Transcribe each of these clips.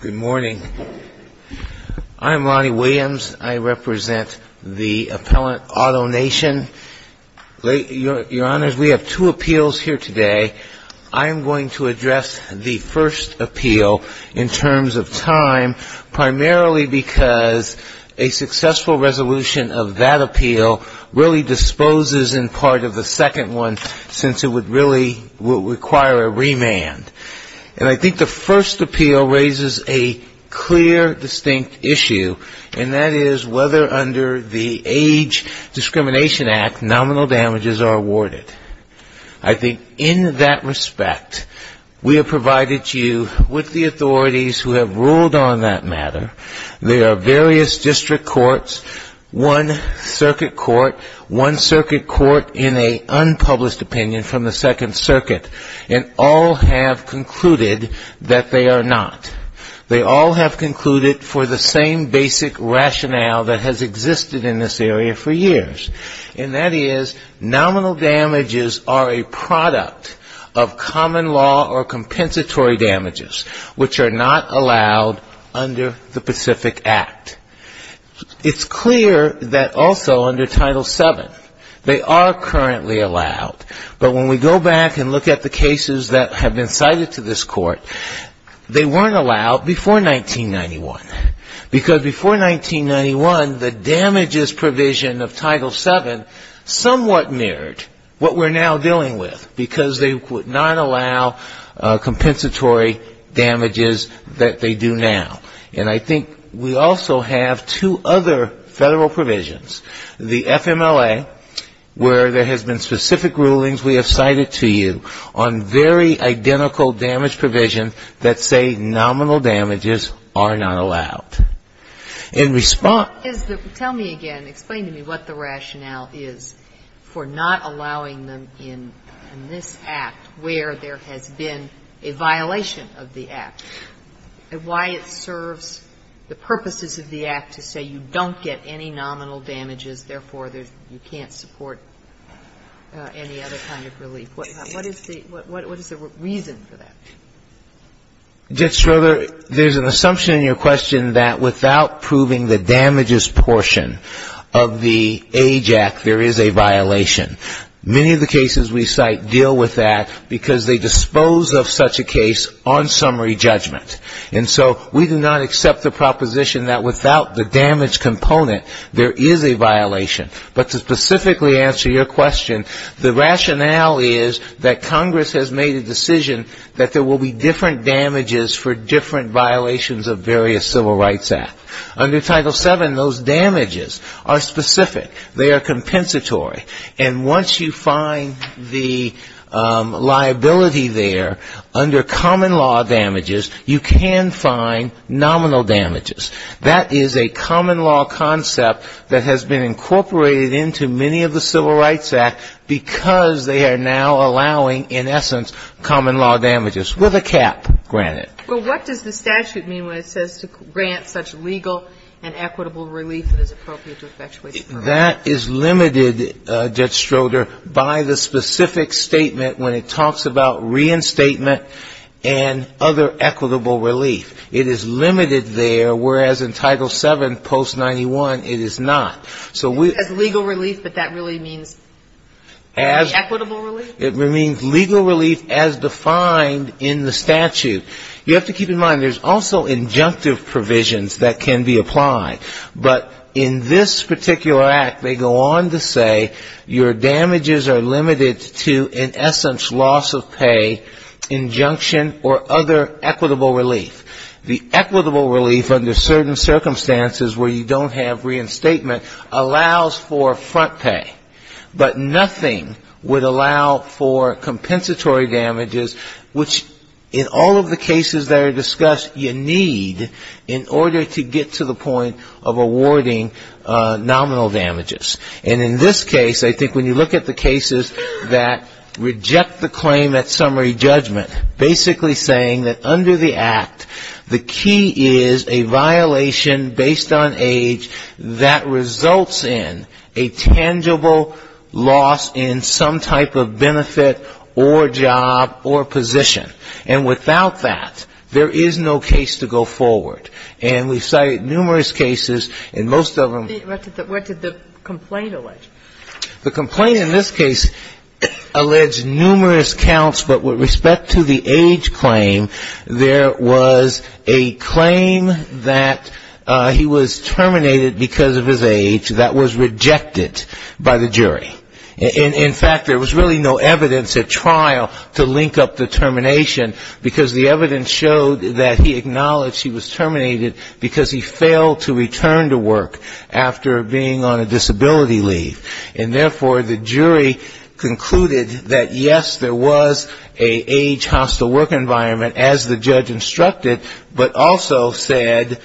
Good morning. I'm Lonnie Williams. I represent the Appellant Auto Nation. Your Honors, we primarily because a successful resolution of that appeal really disposes in part of the second one, since it would really require a remand. And I think the first appeal raises a clear, distinct issue, and that is whether under the Age Discrimination Act, nominal damages are awarded. I think in that respect, we have provided you with the authorities who have ruled on that matter. There are various district courts, one circuit court, one circuit court in an unpublished opinion from the Second Circuit, and all have concluded that they are not. They all have concluded for the same basic rationale that has existed in this area for years, and that is, nominal damages are a product of common law or compensatory damages, which are not allowed under the Pacific Act. It's clear that also under Title VII, they are currently allowed. But when we go back and look at the cases that have been cited to this court, they weren't allowed before 1991. Because before 1991, the damages provision of Title VII somewhat mirrored what we're now dealing with, because they would not allow compensatory damages that they do now. And I think we also have two other Federal provisions, the FMLA, where there has been specific rulings we have cited to you on very identical damage provision that say nominal damages are not allowed. In response to that, we have to look at what the rationale is for not allowing them in this Act, where there has been a violation of the Act, and why it serves as a reason for not allowing them in this Act, and why it serves the purposes of the Act to say you don't get any nominal damages, therefore, you can't support any other kind of relief. What is the reason for that? Verrilli, there's an assumption in your question that without proving the damages portion of the Age Act, there is a violation. Many of the cases we cite deal with that because they dispose of such a case on summary judgment. And so we do not accept the proposition that without the damage component, there is a violation. But to specifically answer your question, the rationale is that Congress has made a decision that there will be different damages for different violations of various Civil Rights Acts. Under Title VII, those damages are specific. They are compensatory. And once you find the liability there, under common law damages, you can find nominal damages. That is a common law concept that has been incorporated into many of the Civil Rights Acts because they are now allowing, in essence, common law damages, with a cap granted. Well, what does the statute mean when it says to grant such legal and equitable relief that is appropriate to effectuate the crime? That is limited, Judge Stroder, by the specific statement when it talks about reinstatement and other equitable relief. It is limited there, whereas in Title VII post-'91, it is not. It says legal relief, but that really means only equitable relief? It means legal relief as defined in the statute. You have to keep in mind there's also injunctive provisions that can be applied. But in this particular Act, they go on to say your damages are limited to, in essence, loss of pay, injunction or other equitable relief. The equitable relief under certain circumstances where you don't have reinstatement allows for front pay. But nothing would allow for compensatory damages, which in all of the cases that are cited, there are no compensatory damages. And in this case, I think when you look at the cases that reject the claim at summary judgment, basically saying that under the Act, the key is a violation based on age that results in a tangible loss in some type of benefit or job or position. And without that, there is no case to go forward. And we've cited numerous cases, and most of them -- Where did the complaint allege? The complaint in this case alleged numerous counts, but with respect to the age claim, there was a claim that he was terminated because of his age that was rejected by the jury. In fact, there was really no evidence at trial to link up the termination, because the evidence showed that he acknowledged he was terminated because he failed to return to work after being on a disability leave. And therefore, the jury concluded that, yes, there was an age-hostile work environment, as the judge instructed, but also said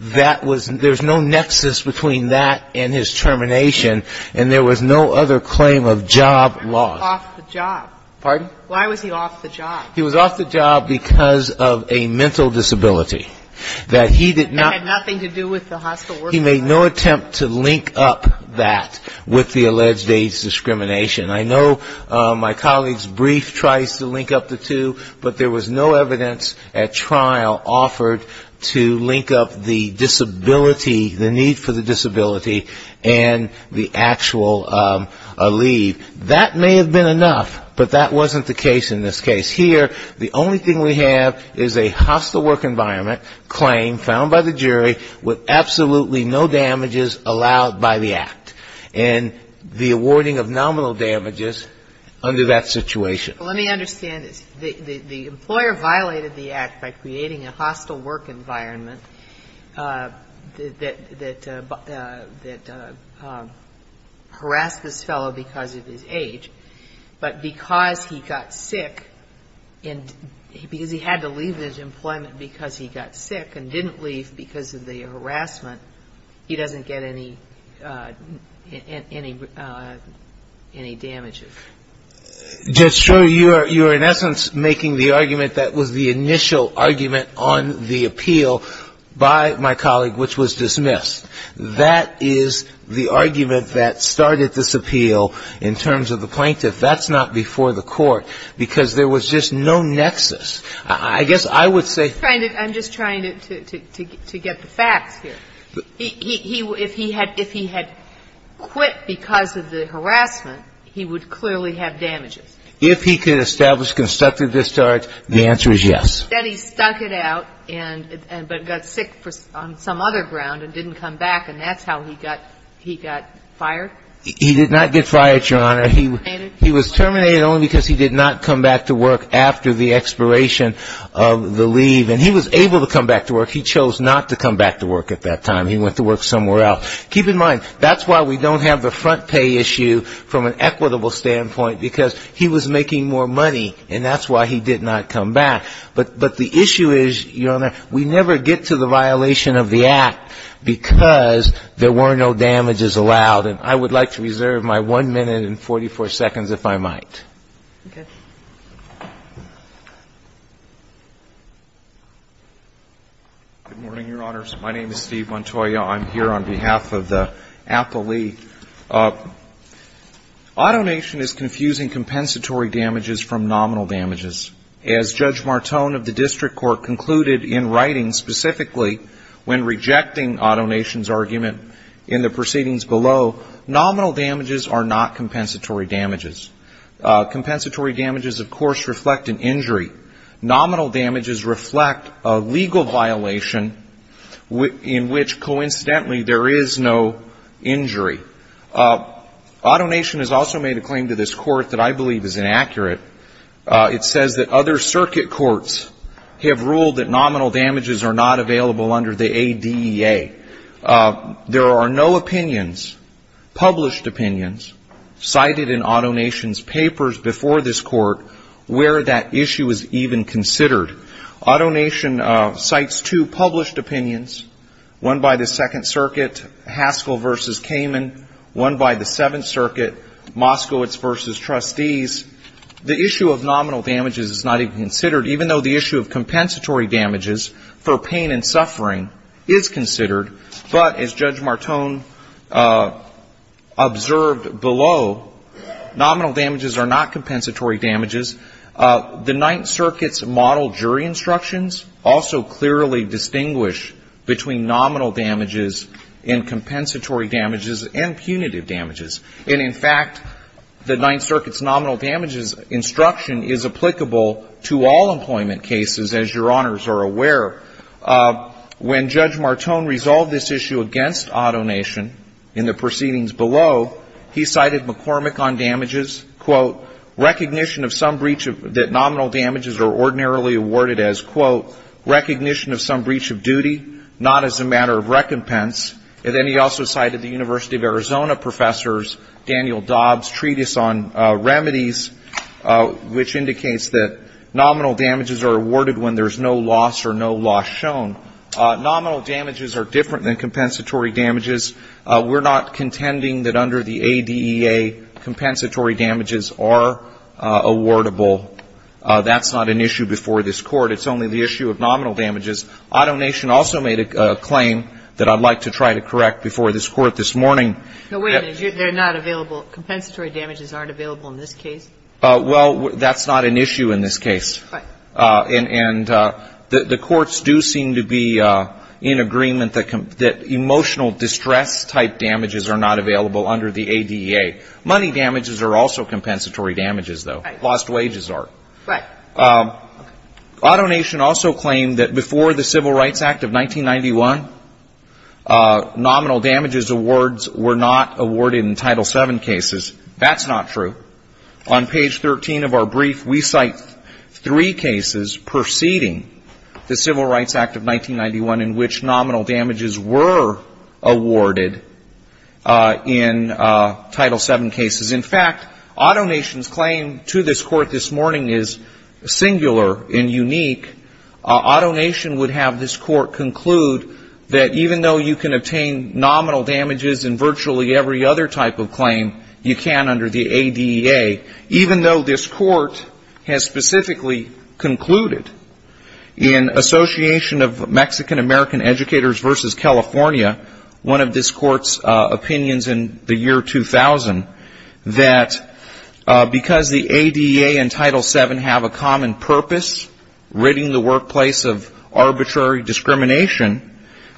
that there was no nexus between that and his termination, and there was no other claim of job loss. He was off the job. Pardon? Why was he off the job? He was off the job because of a mental disability. That had nothing to do with the hostile work environment. He made no attempt to link up that with the alleged age discrimination. I know my colleague's brief tries to link up the two, but there was no evidence at trial offered to link up the disability, the need for the disability, and the actual leave. That may have been enough, but that wasn't the case in this case. Here, the only thing we have is a hostile work environment claim found by the jury with absolutely no damages allowed by the Act, and the awarding of nominal damages under that situation. Well, let me understand this. The employer violated the Act by creating a hostile work environment that harassed this fellow because of his age, but because he got sick, and because he had to leave his employment because he got sick and didn't leave because of the harassment, he doesn't get any damage? Just so you're in essence making the argument that was the initial argument on the appeal by my colleague, which was dismissed. That is the argument that started this appeal in terms of the plaintiff. That's not before the Court, because there was just no nexus. I guess I would say ---- I'm just trying to get the facts here. If he had quit because of the harassment, he would clearly have damages. If he could establish constructive discharge, the answer is yes. Then he stuck it out and got sick on some other ground and didn't come back, and that's how he got fired? He did not get fired, Your Honor. He was terminated only because he did not come back to work after the expiration of the leave, and he was able to come back to work. He chose not to come back to work at that time. He went to work somewhere else. Keep in mind, that's why we don't have the front pay issue from an equitable standpoint, because he was making more money, and that's why he did not come back. But the issue is, Your Honor, we never get to the violation of the Act because there were no damages allowed. And I would like to reserve my 1 minute and 44 seconds, if I might. Okay. Good morning, Your Honors. My name is Steve Montoya. I'm here on behalf of the Apple League. AutoNation is confusing compensatory damages from nominal damages. As Judge Martone of the District Court concluded in writing specifically when rejecting AutoNation's argument in the proceedings below, nominal damages are not compensatory damages. Compensatory damages, of course, reflect an injury. Nominal damages reflect a legal violation in which, coincidentally, there is no injury. AutoNation has also made a claim to this Court that I believe is inaccurate. It says that other circuit courts have ruled that nominal damages are not available under the ADEA. There are no opinions, published opinions, cited in AutoNation's papers before this Court where that issue is even considered. AutoNation cites two published opinions, one by the Second Circuit, Haskell v. Kamen, one by the Seventh Circuit, Moskowitz v. The issue of nominal damages is not even considered, even though the issue of compensatory damages for pain and suffering is considered. But as Judge Martone observed below, nominal damages are not compensatory damages. The Ninth Circuit's model jury instructions also clearly distinguish between nominal damages and compensatory damages and punitive damages. And in fact, the Ninth Circuit's nominal damages instruction is applicable to all employment cases, as Your Honors are aware. When Judge Martone resolved this issue against AutoNation in the proceedings below, he cited McCormick on damages, quote, recognition of some breach that nominal damages are ordinarily awarded as, quote, recognition of some breach of duty, not as a breach of duty, but as a breach of duty. And in fact, the Ninth Circuit's nominal damages instruction is applicable to all employment cases, as Your Honors are aware. And in fact, the Ninth Circuit's nominal damages instruction is applicable to all employment cases, as Your Honors are aware. Now, wait a minute. They're not available. Compensatory damages aren't available in this case? Well, that's not an issue in this case. And the courts do seem to be in agreement that emotional distress type damages are not available under the ADA. Money damages are also compensatory damages, though. Lost wages are. Right. AutoNation also claimed that before the Civil Rights Act of 1991, nominal damages awards were not awarded in Title VII cases. That's not true. On page 13 of our brief, we cite three cases preceding the Civil Rights Act of 1991 in which nominal damages were awarded in Title VII cases. In fact, AutoNation's claim to this Court this morning is singular and unique. AutoNation would have this Court conclude that even though you can obtain nominal damages in virtually every other type of claim, you can't under the ADA, even though this Court has specifically concluded in Association of Mexican American Educators v. California, one of this Court's opinions in the year 2000, that because the ADA and Title VII have a common purpose, ridding the workplace of arbitrary discrimination,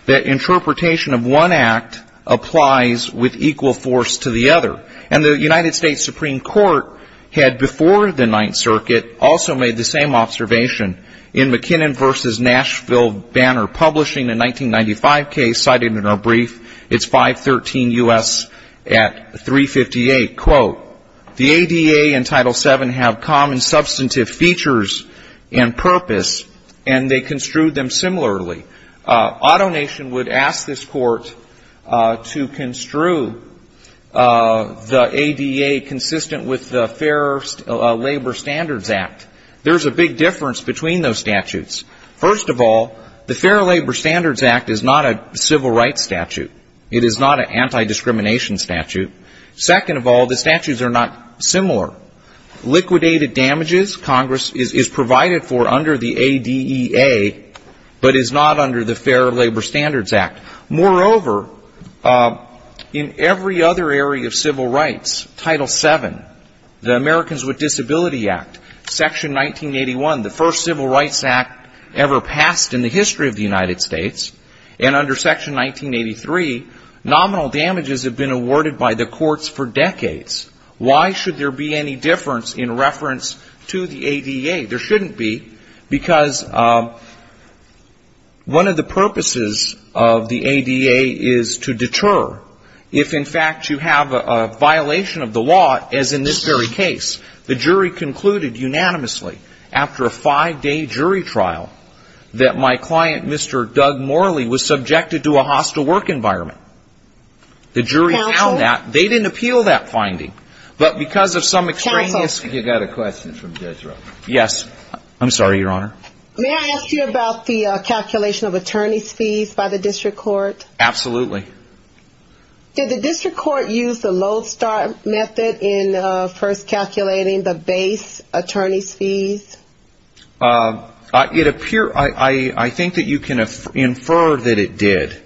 that interpretation of one act applies with equal force to the other. And the United States Supreme Court had before the Ninth Circuit also made the same observation. In McKinnon v. Nashville Banner Publishing, a 1995 case cited in our brief, it's 513 U.S. at 358, quote, the ADA and Title VII have common substantive features and purpose, and they construed them similarly. AutoNation would ask this Court to construe the ADA consistent with the Fair Labor Standards Act. There's a big difference between those statutes. First of all, the Fair Labor Standards Act is not a civil rights statute. It is not an anti-discrimination statute. Second of all, the statutes are not similar. Liquidated damages, Congress is provided for under the ADA, but is not under the Fair Labor Standards Act. Moreover, in every other area of civil rights, Title VII, the Americans with Disability Act, Section 1981, the first civil rights act ever passed in the history of the United States, and under Section 1983, nominal damages have been awarded by the courts for decades. Why should there be any difference in reference to the ADA? There shouldn't be, because one of the purposes of the ADA is to deter if, in fact, you have a violation of the law, as in this very case. The jury concluded unanimously after a five-day jury trial that my client, Mr. Doug Morley, was subjected to a hostile work environment. The jury found that. They didn't appeal that finding, but because of some extraneous. I think you've got a question from Jethro. Yes. I'm sorry, Your Honor. May I ask you about the calculation of attorney's fees by the district court? Absolutely. Did the district court use the Lodestar method in first calculating the base attorney's fees? I think that you can infer that it did.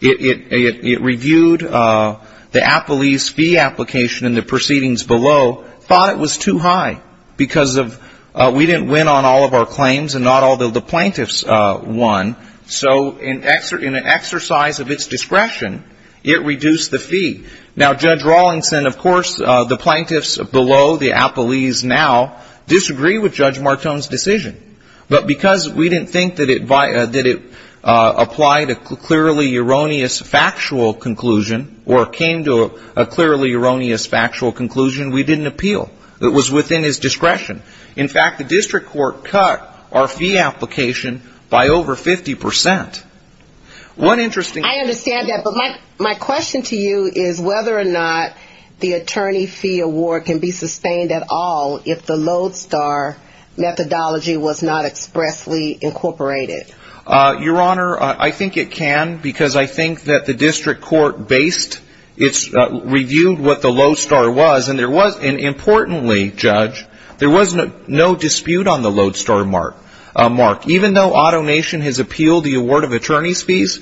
It reviewed the appellee's fee application and the proceedings below, thought it was too high, because we didn't win on all of our claims and not all the plaintiffs won. So in an exercise of its discretion, it reduced the fee. Now, Judge Rawlinson, of course, the plaintiffs below, the appellees now, disagree with Judge Martone's decision. But because we didn't think that it applied a clearly erroneous factual conclusion or came to a clearly erroneous factual conclusion, we didn't appeal. It was within his discretion. In fact, the district court cut our fee application by over 50%. One interesting thing. I understand that. But my question to you is whether or not the attorney fee award can be sustained at all if the Lodestar methodology was not expressly incorporated. Your Honor, I think it can because I think that the district court based its review of what the Lodestar was. And importantly, Judge, there was no dispute on the Lodestar mark. Even though AutoNation has appealed the award of attorney's fees,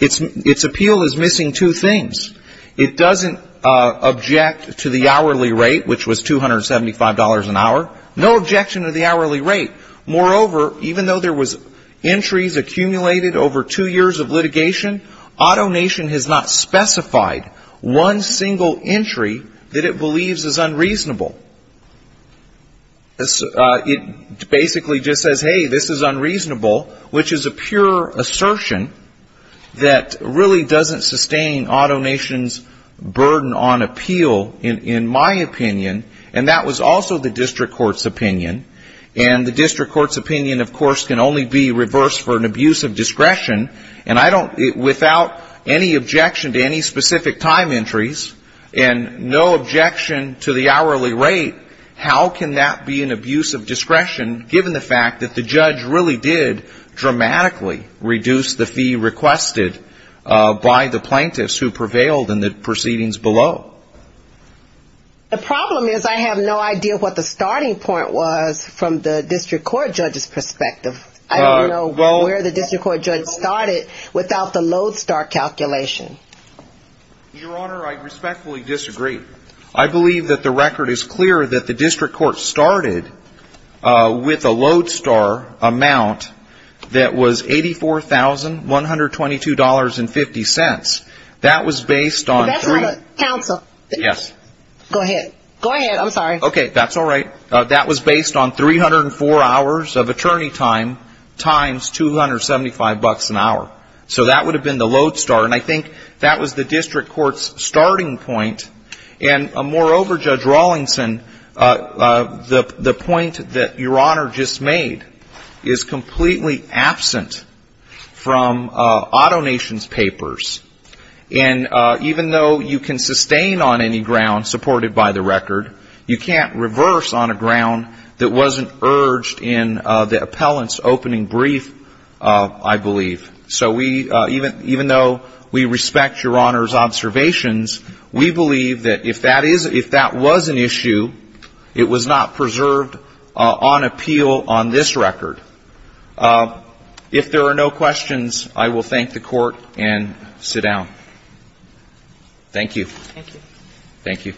its appeal is missing two things. It doesn't object to the hourly rate, which was $275 an hour. No objection to the hourly rate. Moreover, even though there was entries accumulated over two years of litigation, AutoNation has not specified one single entry that it believes is unreasonable. It basically just says, hey, this is unreasonable, which is a pure assertion that really doesn't sustain AutoNation's burden on appeal in my opinion. And that was also the district court's opinion. And the district court's opinion, of course, can only be reversed for an abuse of discretion. And I don't, without any objection to any specific time entries and no objection to the hourly rate, how can that be an abuse of discretion given the fact that the judge really did dramatically reduce the fee requested by the plaintiffs who prevailed in the proceedings below? The problem is I have no idea what the starting point was from the district court judge's perspective. I don't know where the district court judge started without the Lodestar calculation. Your Honor, I respectfully disagree. I believe that the record is clear that the district court started with a Lodestar amount that was $84,122.50. That was based on three. Counsel. Yes. Go ahead. Go ahead. I'm sorry. Okay. That's all right. That was based on 304 hours of attorney time times 275 bucks an hour. So that would have been the Lodestar. And I think that was the district court's starting point. And, moreover, Judge Rawlingson, the point that Your Honor just made is completely absent from AutoNation's papers. And even though you can sustain on any ground supported by the record, you can't reverse on a ground that wasn't urged in the appellant's opening brief, I believe. So we, even though we respect Your Honor's observations, we believe that if that is, if that was an issue, it was not preserved on appeal on this record. If there are no questions, I will thank the Court and sit down. Thank you. Thank you. Thank you.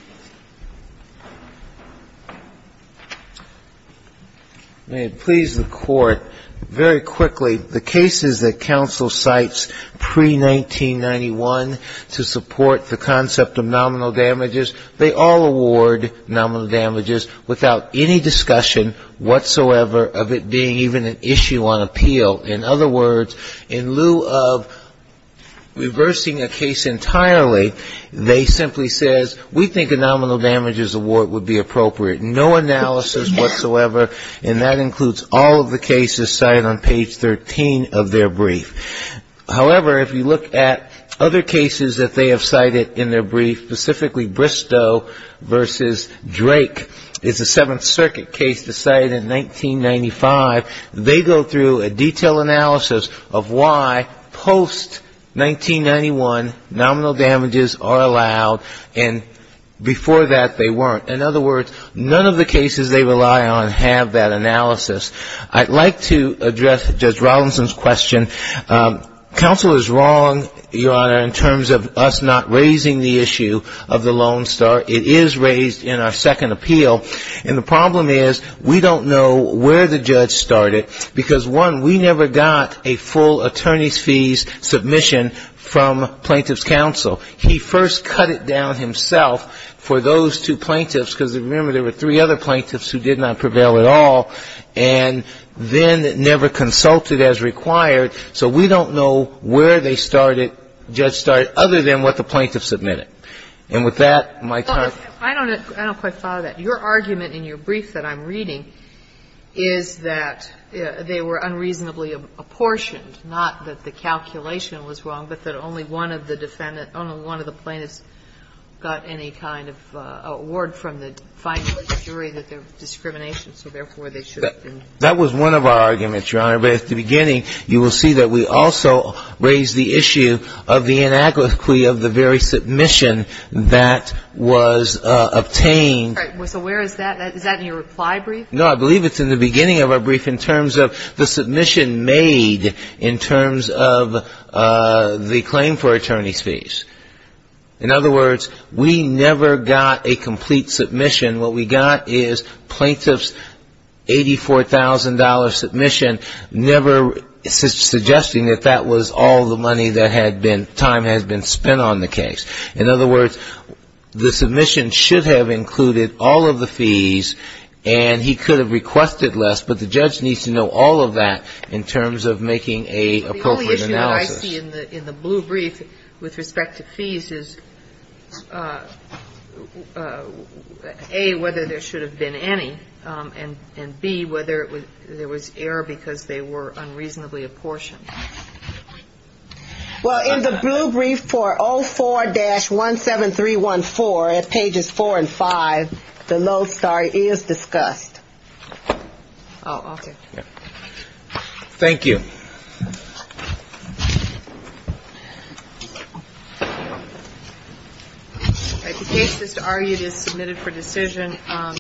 May it please the Court, very quickly, the cases that counsel cites pre-1991 to support the concept of nominal damages, they all award nominal damages without any discussion whatsoever of it being even an issue on appeal. In other words, in lieu of reversing a case entirely, they simply says, we think it's an issue on appeal. We think a nominal damages award would be appropriate. No analysis whatsoever, and that includes all of the cases cited on page 13 of their brief. However, if you look at other cases that they have cited in their brief, specifically Bristow v. Drake, it's a Seventh Circuit case decided in 1995. They go through a detailed analysis of why, post-1991, nominal damages are allowed, and before that, they go through a detailed analysis of what they think is an issue on appeal. Before that, they weren't. In other words, none of the cases they rely on have that analysis. I'd like to address Judge Robinson's question. Counsel is wrong, Your Honor, in terms of us not raising the issue of the loan start. It is raised in our second appeal. And the problem is, we don't know where the judge started, because, one, we never got a full attorney's fees submission from Plaintiff's Counsel. He first cut it down himself for those two plaintiffs, because, remember, there were three other plaintiffs who did not prevail at all, and then never consulted as required. So we don't know where they started, judge started, other than what the plaintiff submitted. And with that, my time is up. I don't quite follow that. Your argument in your brief that I'm reading is that they were unreasonably apportioned, not that the calculation was wrong, but that only one of the defendant, only one of the plaintiffs got any kind of award from the final jury that there was discrimination, so therefore, they should have been. That was one of our arguments, Your Honor. But at the beginning, you will see that we also raised the issue of the inaugural submission that was obtained. So where is that? Is that in your reply brief? No, I believe it's in the beginning of our brief in terms of the submission made in terms of the claim for attorney's fees. In other words, we never got a complete submission. What we got is plaintiff's $84,000 submission, never suggesting that that was all the money that had been, time had been spent on the case. In other words, the submission should have included all of the fees, and he could have requested less, but the judge needs to know all of that in terms of making an appropriate analysis. What I see in the blue brief with respect to fees is, A, whether there should have been any, and, B, whether there was error because they were unreasonably apportioned. Well, in the blue brief for 04-17314 at pages 4 and 5, the Lowe story is discussed. Oh, okay. Thank you. All right. The case is to argue it is submitted for decision.